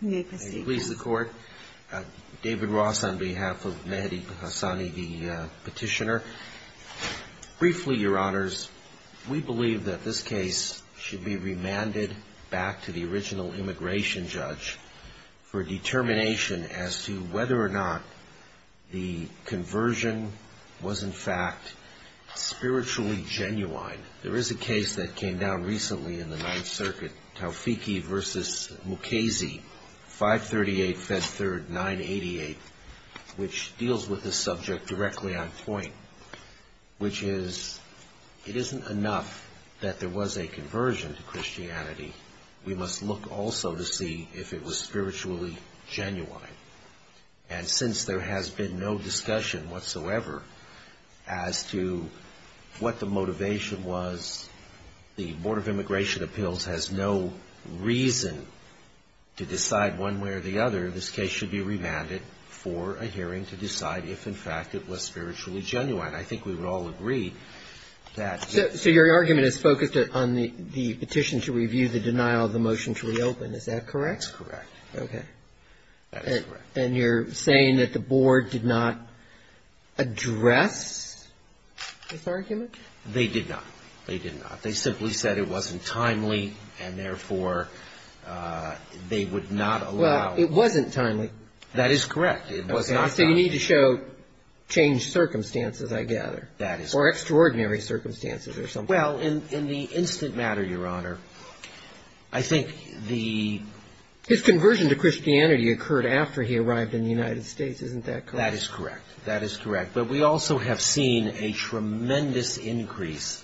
May it please the Court, David Ross on behalf of Mehdi Hassani, the petitioner. Briefly, Your Honours, we believe that this case should be remanded back to the original immigration judge for determination as to whether or not the conversion was in fact spiritually genuine. There is a case that came down recently in the Ninth Circuit, Taufiqi v. Mukasey, 538 Fed 3rd 988, which deals with this subject directly on point, which is it isn't enough that there was a conversion to Christianity, we must look also to see if it was spiritually genuine. And since there has been no discussion whatsoever as to what the motivation was, the Board of Immigration Appeals has no reason to decide one way or the other, this case should be remanded for a hearing to decide if in fact it was spiritually genuine. I think we would all agree that yes. So your argument is focused on the petition to review the denial of the motion to reopen, is that correct? That's correct. Okay. That is correct. And you're saying that the Board did not address this argument? They did not. They did not. They simply said it wasn't timely, and therefore, they would not allow. Well, it wasn't timely. That is correct. It was not timely. So you need to show changed circumstances, I gather. That is correct. Or extraordinary circumstances or something. Well, in the instant matter, Your Honor, I think the His conversion to Christianity occurred after he arrived in the United States, isn't that correct? That is correct. That is correct. But we also have seen a tremendous increase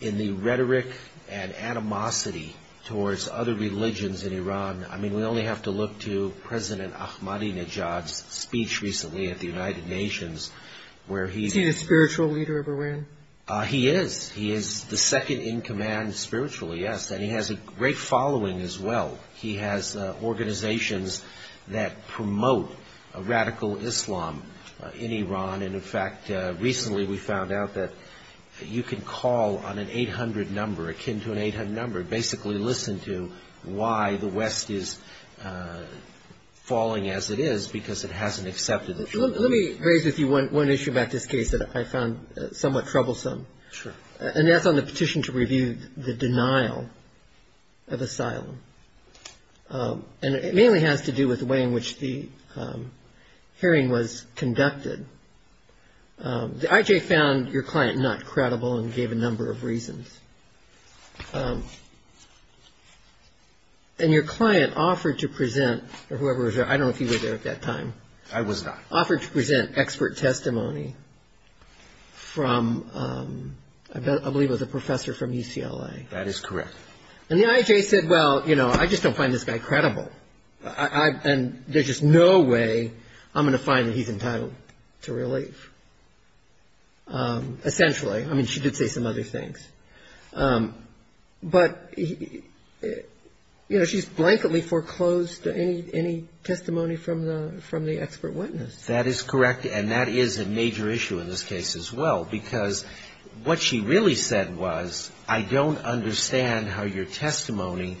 in the rhetoric and animosity towards other religions in Iran. I mean, we only have to look to President Ahmadinejad's speech recently at the United Nations where he Is he the spiritual leader of Iran? He is. He is the second in command spiritually, yes. And he has a great following as well. He has organizations that promote radical Islam in Iran. And, in fact, recently we found out that you can call on an 800 number, akin to an 800 number, basically listen to why the West is falling as it is, because it hasn't accepted it. Let me raise with you one issue about this case that I found somewhat troublesome. Sure. And that's on the petition to review the denial of asylum. And it mainly has to do with the way in which the hearing was conducted. The IJ found your client not credible and gave a number of reasons. And your client offered to present, or whoever was there, I don't know if you were there at that time. I was not. Offered to present expert testimony from, I believe it was a professor from UCLA. That is correct. And the IJ said, well, you know, I just don't find this guy credible. And there's just no way I'm going to find that he's entitled to relief, essentially. I mean, she did say some other things. But, you know, she's blankedly foreclosed any testimony from the expert witness. That is correct. And that is a major issue in this case as well, because what she really said was, I don't understand how your testimony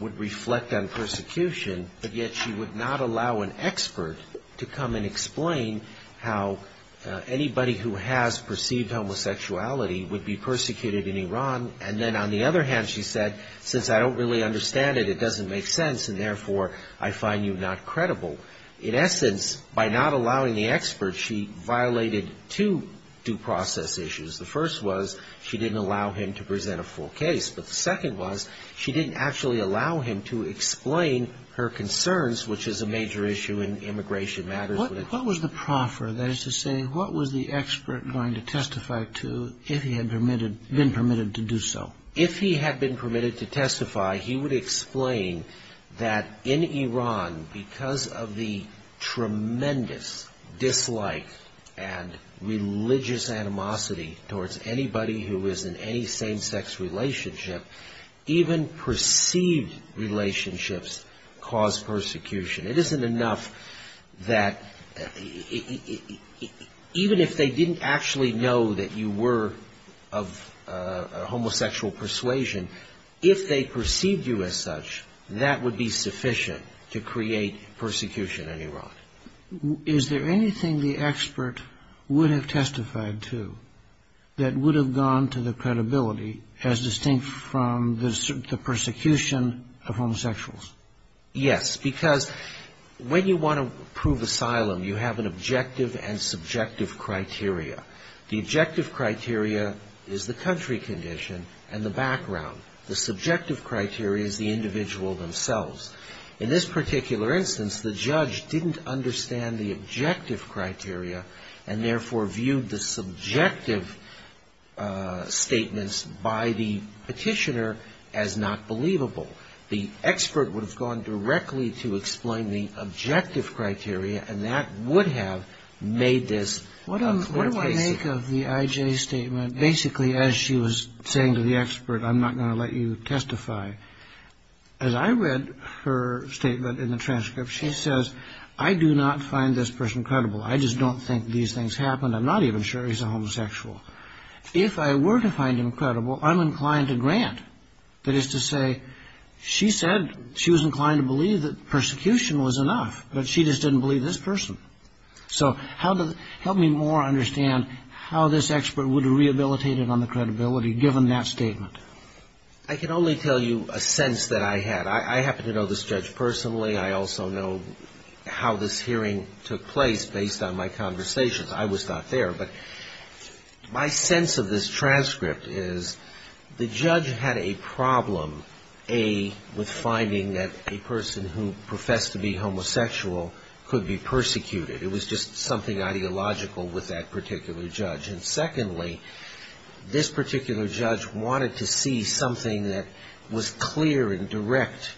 would reflect on persecution, but yet she would not allow an expert to come and explain how anybody who has perceived homosexuality would be persecuted in Iran. And then on the other hand, she said, since I don't really understand it, it doesn't make sense, and therefore I find you not credible. In essence, by not allowing the expert, she violated two due process issues. The first was she didn't allow him to present a full case. But the second was she didn't actually allow him to explain her concerns, which is a major issue in immigration matters. What was the proffer? That is to say, what was the expert going to testify to if he had been permitted to do so? If he had been permitted to testify, he would explain that in Iran, because of the tremendous dislike and religious animosity towards anybody who is in any same-sex relationship, even perceived relationships cause persecution. It isn't enough that even if they didn't actually know that you were of homosexual persuasion, if they perceived you as such, that would be sufficient to create persecution in Iran. Is there anything the expert would have testified to that would have gone to the credibility as distinct from the persecution of homosexuals? Yes, because when you want to prove asylum, you have an objective and subjective criteria. The objective criteria is the country condition and the background. The subjective criteria is the individual themselves. In this particular instance, the judge didn't understand the objective criteria and therefore viewed the subjective statements by the petitioner as not believable. The expert would have gone directly to explain the objective criteria, and that would have made this a clear case. What do I make of the I.J.'s statement? Basically, as she was saying to the expert, I'm not going to let you testify, as I read her statement in the transcript, she says, I do not find this person credible. I just don't think these things happen. I'm not even sure he's a homosexual. If I were to find him credible, I'm inclined to grant. That is to say, she said she was inclined to believe that persecution was enough, but she just didn't believe this person. So help me more understand how this expert would have rehabilitated on the credibility, given that statement. I can only tell you a sense that I had. I happen to know this judge personally. I also know how this hearing took place based on my conversations. I was not there, but my sense of this transcript is the judge had a problem, A, with finding that a person who professed to be homosexual could be persecuted. It was just something ideological with that particular judge. And secondly, this particular judge wanted to see something that was clear and direct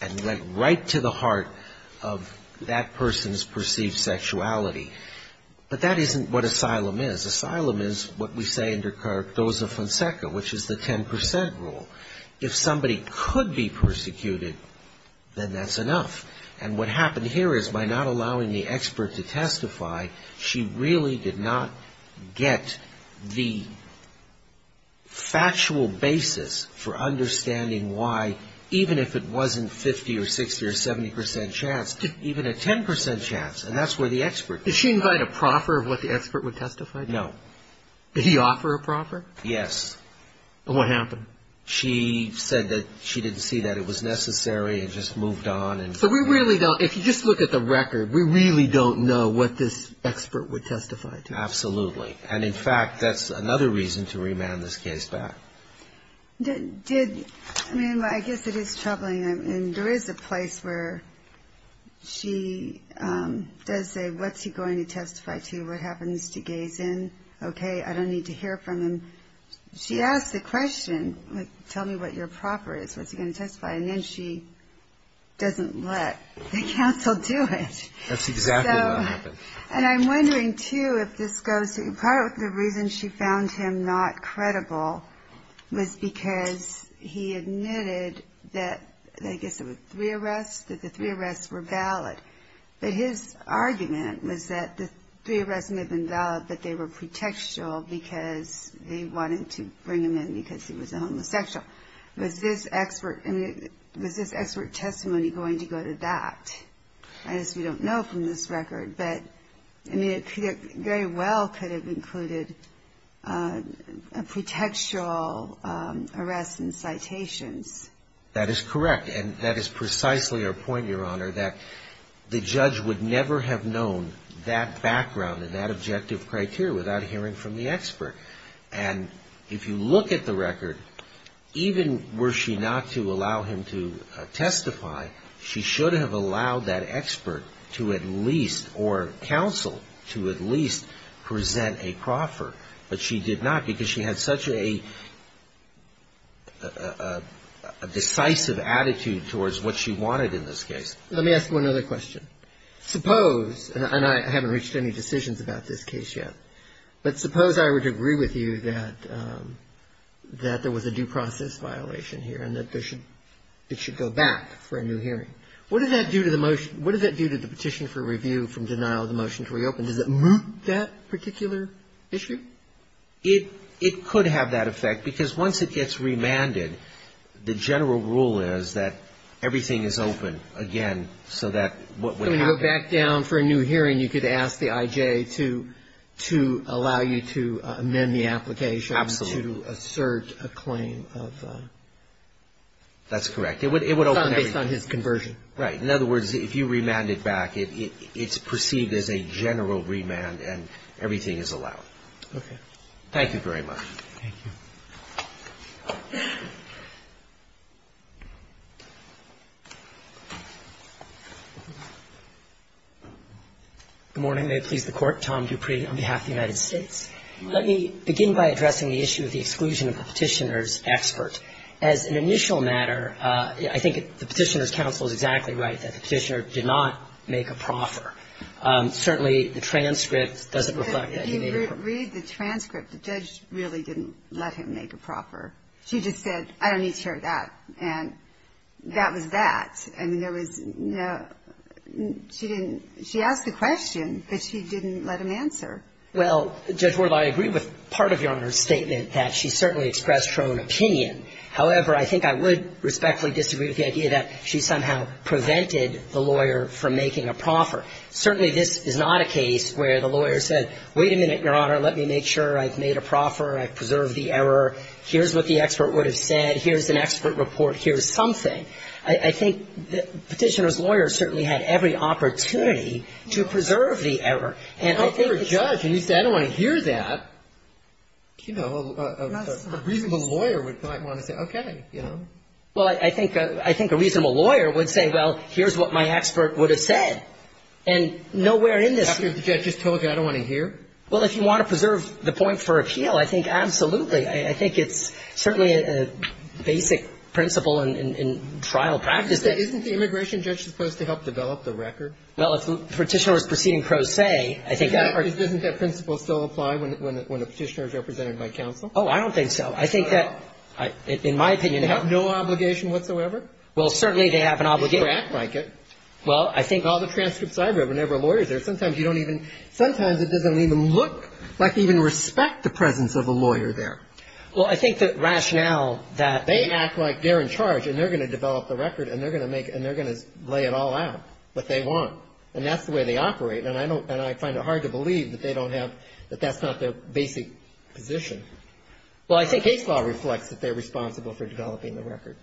and went right to the heart of that person's perceived sexuality. But that isn't what asylum is. Asylum is what we say in Descartes' Dose of Fonseca, which is the 10 percent rule. If somebody could be persecuted, then that's enough. And what happened here is by not allowing the expert to testify, she really did not get the factual basis for understanding why, even if it wasn't 50 or 60 or 70 percent chance, even a 10 percent chance. And that's where the expert comes in. Did she invite a proffer of what the expert would testify to? No. Did he offer a proffer? Yes. And what happened? She said that she didn't see that it was necessary and just moved on. So we really don't, if you just look at the record, we really don't know what this expert would testify to. Absolutely. And, in fact, that's another reason to remand this case back. I mean, I guess it is troubling. There is a place where she does say, what's he going to testify to? What happens to Gays Inn? Okay, I don't need to hear from him. She asked the question, tell me what your proffer is, what's he going to testify, and then she doesn't let the counsel do it. That's exactly what happened. And I'm wondering, too, if this goes to part of the reason she found him not credible was because he admitted that, I guess it was three arrests, that the three arrests were valid. But his argument was that the three arrests may have been valid, but they were pretextual because they wanted to bring him in because he was a homosexual. Was this expert testimony going to go to that? I guess we don't know from this record. But, I mean, it very well could have included pretextual arrests and citations. That is correct. And that is precisely our point, Your Honor, that the judge would never have known that background and that objective criteria without hearing from the expert. And if you look at the record, even were she not to allow him to testify, she should have allowed that expert to at least or counsel to at least present a proffer. But she did not because she had such a decisive attitude towards what she wanted in this case. Let me ask one other question. Suppose, and I haven't reached any decisions about this case yet, but suppose I were to agree with you that there was a due process violation here and that it should go back for a new hearing. What does that do to the petition for review from denial of the motion to reopen? Does it move that particular issue? It could have that effect because once it gets remanded, the general rule is that everything is open again so that what would happen So when you go back down for a new hearing, you could ask the IJ to allow you to amend the application to assert a claim of That's correct. It would open everything. Based on his conversion. Right. In other words, if you remand it back, it's perceived as a general remand and everything is allowed. Okay. Thank you very much. Thank you. Good morning. May it please the Court. Tom Dupree on behalf of the United States. Let me begin by addressing the issue of the exclusion of the petitioner's expert. As an initial matter, I think the petitioner's counsel is exactly right, that the petitioner did not make a proffer. Certainly the transcript doesn't reflect that he made a proffer. But if you read the transcript, the judge really didn't let him make a proffer. She just said, I don't need to hear that. And that was that. I mean, there was no – she didn't – she asked the question, but she didn't let him answer. Well, Judge Wardle, I agree with part of Your Honor's statement, that she certainly expressed her own opinion. However, I think I would respectfully disagree with the idea that she somehow prevented the lawyer from making a proffer. Certainly this is not a case where the lawyer said, wait a minute, Your Honor, let me make sure I've made a proffer, I've preserved the error, here's what the expert would have said, here's an expert report, here's something. I think the petitioner's lawyer certainly had every opportunity to preserve the error. And I think it's – But if you're a judge and you say, I don't want to hear that, you know, a reasonable lawyer would probably want to say, okay, you know. Well, I think a reasonable lawyer would say, well, here's what my expert would have said. And nowhere in this – After the judge just told you, I don't want to hear? Well, if you want to preserve the point for appeal, I think absolutely. I think it's certainly a basic principle in trial practice. Isn't the immigration judge supposed to help develop the record? Well, if the petitioner was proceeding pro se, I think that – Doesn't that principle still apply when a petitioner is represented by counsel? Oh, I don't think so. I think that, in my opinion – They have no obligation whatsoever? Well, certainly they have an obligation. They should act like it. Well, I think – In all the transcripts I've read, whenever a lawyer's there, sometimes you don't even – sometimes it doesn't even look like they even respect the presence of a lawyer there. Well, I think the rationale that – They act like they're in charge and they're going to develop the record and they're going to make – and they're going to lay it all out, what they want. And that's the way they operate. And I don't – and I find it hard to believe that they don't have – that that's not their basic position. Well, I think case law reflects that they're responsible for developing the record.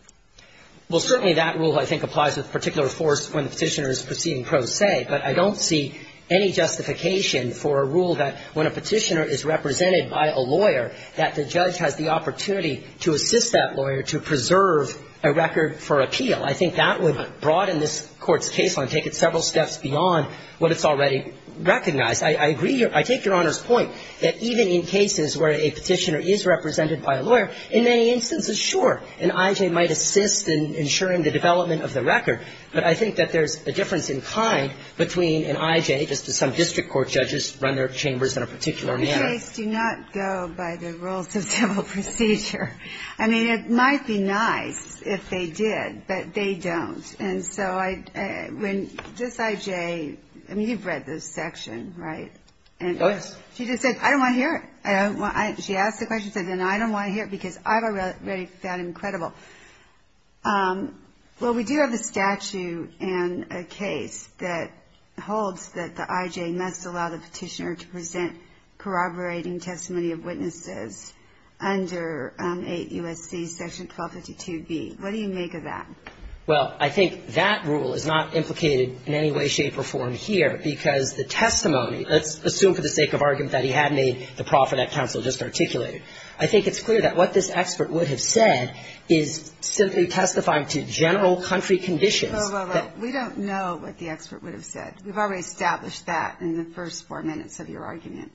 Well, certainly that rule, I think, applies with particular force when the petitioner is proceeding pro se. But I don't see any justification for a rule that when a petitioner is represented by a lawyer, that the judge has the opportunity to assist that lawyer to preserve a record for appeal. I think that would broaden this Court's case line, take it several steps beyond what it's already recognized. I agree – I take Your Honor's point that even in cases where a petitioner is represented by a lawyer, in many instances, sure, an IJ might assist in ensuring the development of the record. But I think that there's a difference in kind between an IJ, just as some district court judges run their chambers in a particular manner. The case do not go by the rules of civil procedure. I mean, it might be nice if they did, but they don't. And so when this IJ – I mean, you've read this section, right? Yes. She just said, I don't want to hear it. She asked the question and said, I don't want to hear it because I've already found it incredible. Well, we do have a statute in a case that holds that the IJ must allow the petitioner to present corroborating testimony of witnesses under 8 U.S.C. Section 1252b. What do you make of that? Well, I think that rule is not implicated in any way, shape or form here because the testimony – let's assume for the sake of argument that he had made the profit that counsel just articulated. I think it's clear that what this expert would have said is simply testifying to general country conditions. Well, well, well. We don't know what the expert would have said. We've already established that in the first four minutes of your argument.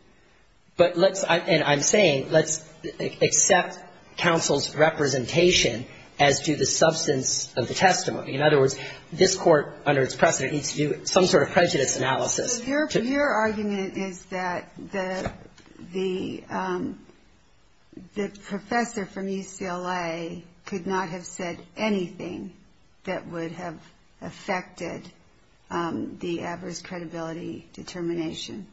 But let's – and I'm saying let's accept counsel's representation as to the substance of the testimony. In other words, this Court, under its precedent, needs to do some sort of prejudice analysis. Your argument is that the professor from UCLA could not have said anything that would have affected the adverse credibility determination.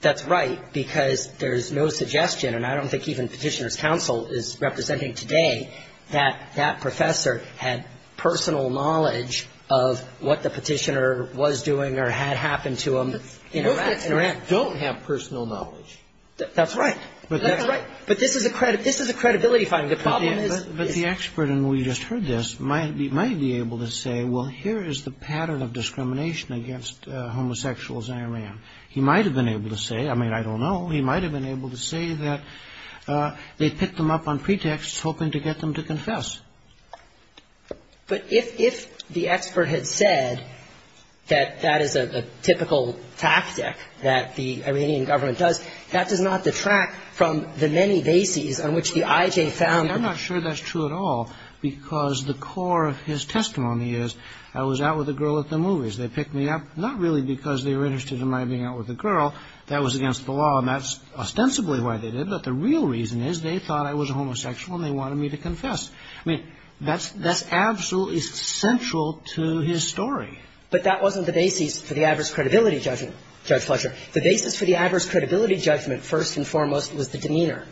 That's right, because there's no suggestion, and I don't think even Petitioner's counsel is representing today, that that professor had personal knowledge of what the happened to him in Iraq. Most experts don't have personal knowledge. That's right. That's right. But this is a credibility finding. The problem is – But the expert, and we just heard this, might be able to say, well, here is the pattern of discrimination against homosexuals in Iran. He might have been able to say – I mean, I don't know. He might have been able to say that they picked them up on pretext hoping to get them to confess. But if the expert had said that that is a typical tactic that the Iranian government does, that does not detract from the many bases on which the IJ found – I'm not sure that's true at all, because the core of his testimony is, I was out with a girl at the movies. They picked me up not really because they were interested in my being out with a girl. That was against the law, and that's ostensibly why they did it. But the real reason is they thought I was homosexual, and they wanted me to confess. I mean, that's absolutely central to his story. But that wasn't the basis for the adverse credibility judgment, Judge Fletcher. The basis for the adverse credibility judgment, first and foremost, was the demeanor,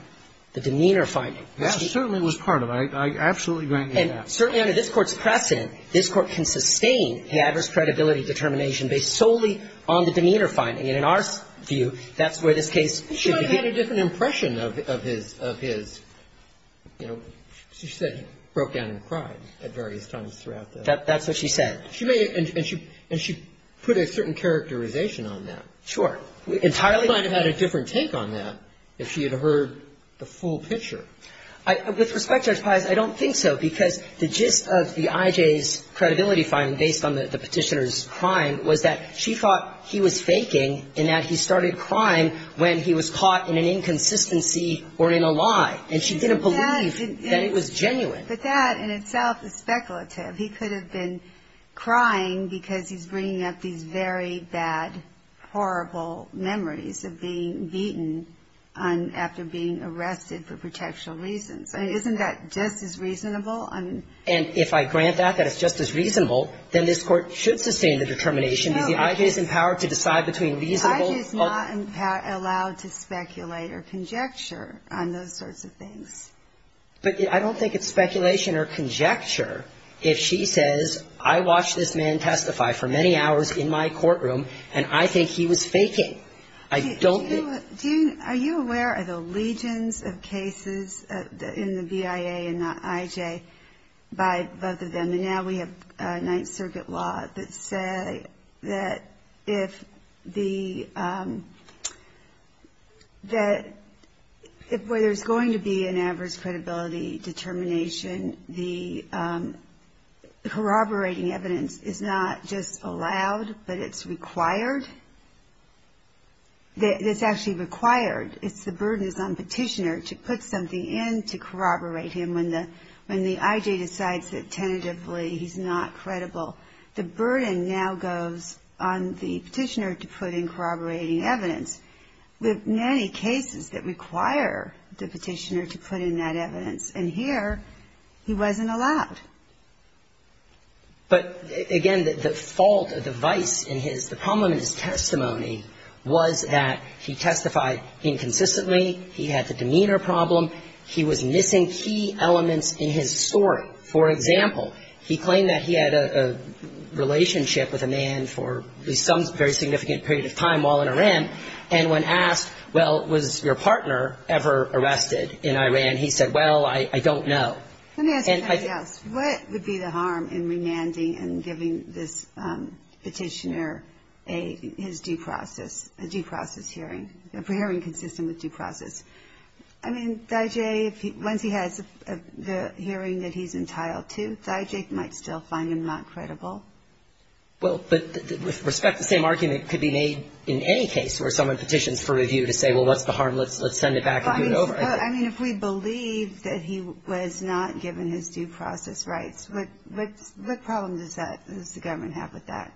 the demeanor finding. Yes, it certainly was part of it. I absolutely grant you that. And certainly under this Court's precedent, this Court can sustain the adverse credibility determination based solely on the demeanor finding. And in our view, that's where this case should be. But she might have had a different impression of his, you know, she said he broke down and cried at various times throughout the – That's what she said. And she put a certain characterization on that. Sure. Entirely – She might have had a different take on that if she had heard the full picture. With respect, Judge Pius, I don't think so, because the gist of the IJ's credibility finding based on the Petitioner's crime was that she thought he was faking and that he started crying when he was caught in an inconsistency or in a lie. And she didn't believe that it was genuine. But that in itself is speculative. He could have been crying because he's bringing up these very bad, horrible memories of being beaten after being arrested for protection reasons. I mean, isn't that just as reasonable? And if I grant that, that it's just as reasonable, then this Court should sustain the determination. Is the IJ's empowered to decide between reasonable – The IJ is not allowed to speculate or conjecture on those sorts of things. But I don't think it's speculation or conjecture if she says, I watched this man testify for many hours in my courtroom, and I think he was faking. I don't think – Are you aware of the legions of cases in the BIA and the IJ by both of them? And now we have Ninth Circuit law that say that if the – that where there's going to be an average credibility determination, the corroborating evidence is not just allowed, but it's required. It's actually required. It's the burden that's on petitioner to put something in to corroborate him When the IJ decides that tentatively he's not credible, the burden now goes on the petitioner to put in corroborating evidence. We have many cases that require the petitioner to put in that evidence, and here he wasn't allowed. But, again, the fault of the vice in his – the problem in his testimony was that he testified inconsistently, he had the demeanor problem, he was missing key elements in his story. For example, he claimed that he had a relationship with a man for some very significant period of time while in Iran, and when asked, well, was your partner ever arrested in Iran, he said, well, I don't know. Let me ask you something else. What would be the harm in remanding and giving this petitioner his due process, a due process hearing, a hearing consistent with due process? I mean, the IJ, once he has the hearing that he's entitled to, the IJ might still find him not credible. Well, but with respect, the same argument could be made in any case where someone petitions for review to say, well, what's the harm? Let's send it back and do it over. I mean, if we believe that he was not given his due process rights, what problem does that – does the government have with that?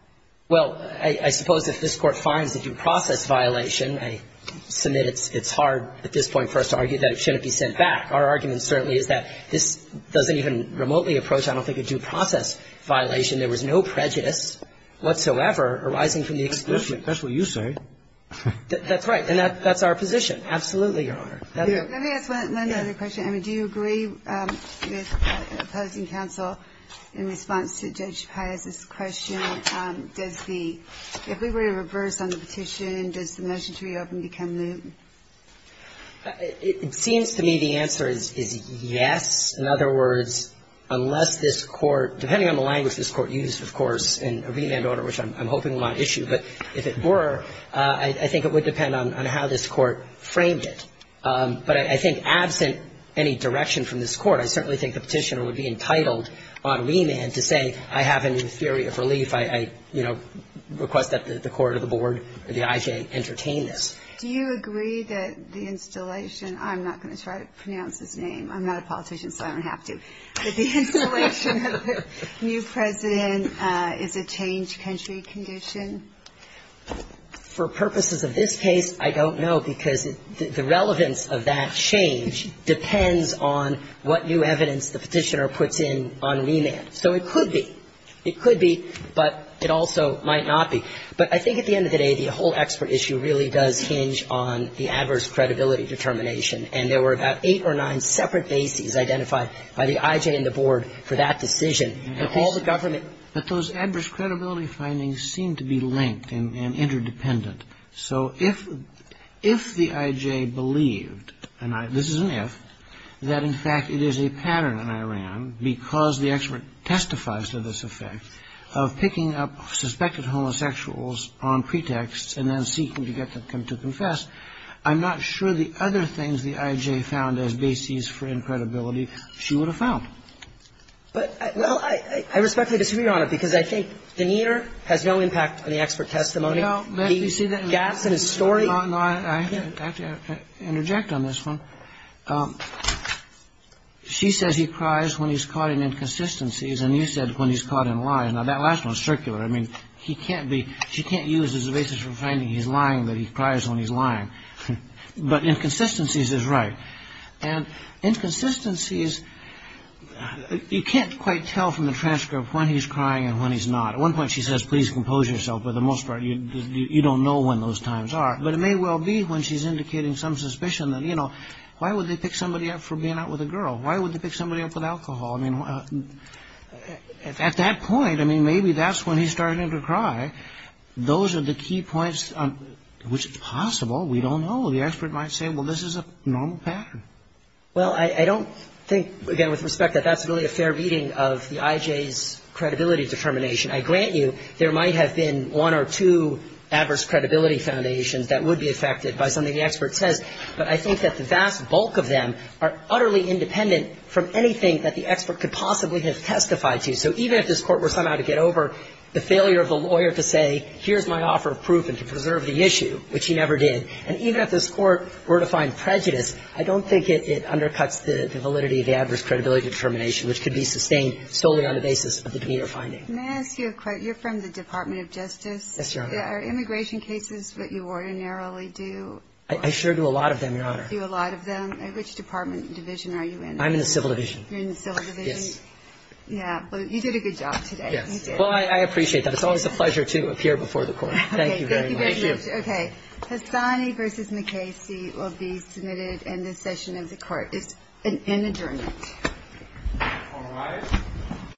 Well, I suppose if this Court finds a due process violation, I submit it's hard, at this point, for us to argue that it shouldn't be sent back. Our argument certainly is that this doesn't even remotely approach, I don't think, a due process violation. There was no prejudice whatsoever arising from the exclusion. That's what you say. That's right. And that's our position. Absolutely, Your Honor. Let me ask one other question. I mean, do you agree with opposing counsel in response to Judge Paez's question, does the – if we were to reverse on the petition, does the motion to reopen become new? It seems to me the answer is yes. In other words, unless this Court – depending on the language this Court used, of course, in a remand order, which I'm hoping will not issue, but if it were, I think it would depend on how this Court framed it. But I think absent any direction from this Court, I certainly think the petitioner would be entitled on remand to say, I have a new theory of relief. I, you know, request that the court or the board or the IJ entertain this. Do you agree that the installation – I'm not going to try to pronounce his name. I'm not a politician, so I don't have to – that the installation of a new president is a change country condition? For purposes of this case, I don't know, because the relevance of that change depends on what new evidence the petitioner puts in on remand. So it could be. It could be, but it also might not be. But I think at the end of the day, the whole expert issue really does hinge on the adverse credibility determination. And there were about eight or nine separate bases identified by the IJ and the board for that decision. But all the government – But those adverse credibility findings seem to be linked and interdependent. So if the IJ believed – and this is an if – that, in fact, it is a pattern in Iran, because the expert testifies to this effect, of picking up suspected homosexuals on pretexts and then seeking to get them to confess, I'm not sure the other things the IJ found as bases for incredibility she would have found. Well, I respectfully disagree, Your Honor, because I think the meter has no impact on the expert testimony. The gaps in his story – No, no, I have to interject on this one. She says he cries when he's caught in inconsistencies, and you said when he's caught in lies. Now, that last one is circular. I mean, he can't be – she can't use as a basis for finding he's lying that he cries when he's lying. But inconsistencies is right. And inconsistencies – you can't quite tell from the transcript when he's crying and when he's not. At one point, she says, please compose yourself, but for the most part, you don't know when those times are. But it may well be when she's indicating some suspicion that, you know, why would they pick somebody up for being out with a girl? Why would they pick somebody up for alcohol? I mean, at that point, I mean, maybe that's when he's starting to cry. Those are the key points, which is possible. We don't know. The expert might say, well, this is a normal pattern. Well, I don't think, again, with respect, that that's really a fair reading of the IJ's credibility determination. I grant you there might have been one or two adverse credibility foundations that would be affected by something the expert says. But I think that the vast bulk of them are utterly independent from anything that the expert could possibly have testified to. So even if this Court were somehow to get over the failure of the lawyer to say, here's my offer of proof and to preserve the issue, which he never did, and even if this Court were to find prejudice, I don't think it undercuts the validity of the adverse credibility determination, which could be sustained solely on the basis of the demeanor finding. May I ask you a quote? You're from the Department of Justice. Yes, Your Honor. Are immigration cases what you ordinarily do? I sure do a lot of them, Your Honor. You do a lot of them. Which department, division are you in? I'm in the Civil Division. You're in the Civil Division? Yes. Yeah. Well, you did a good job today. Yes. Well, I appreciate that. It's always a pleasure to appear before the Court. Thank you very much. Thank you very much. Okay. Hassani v. McCasey will be submitted in this session of the Court. It's an adjournment. All rise.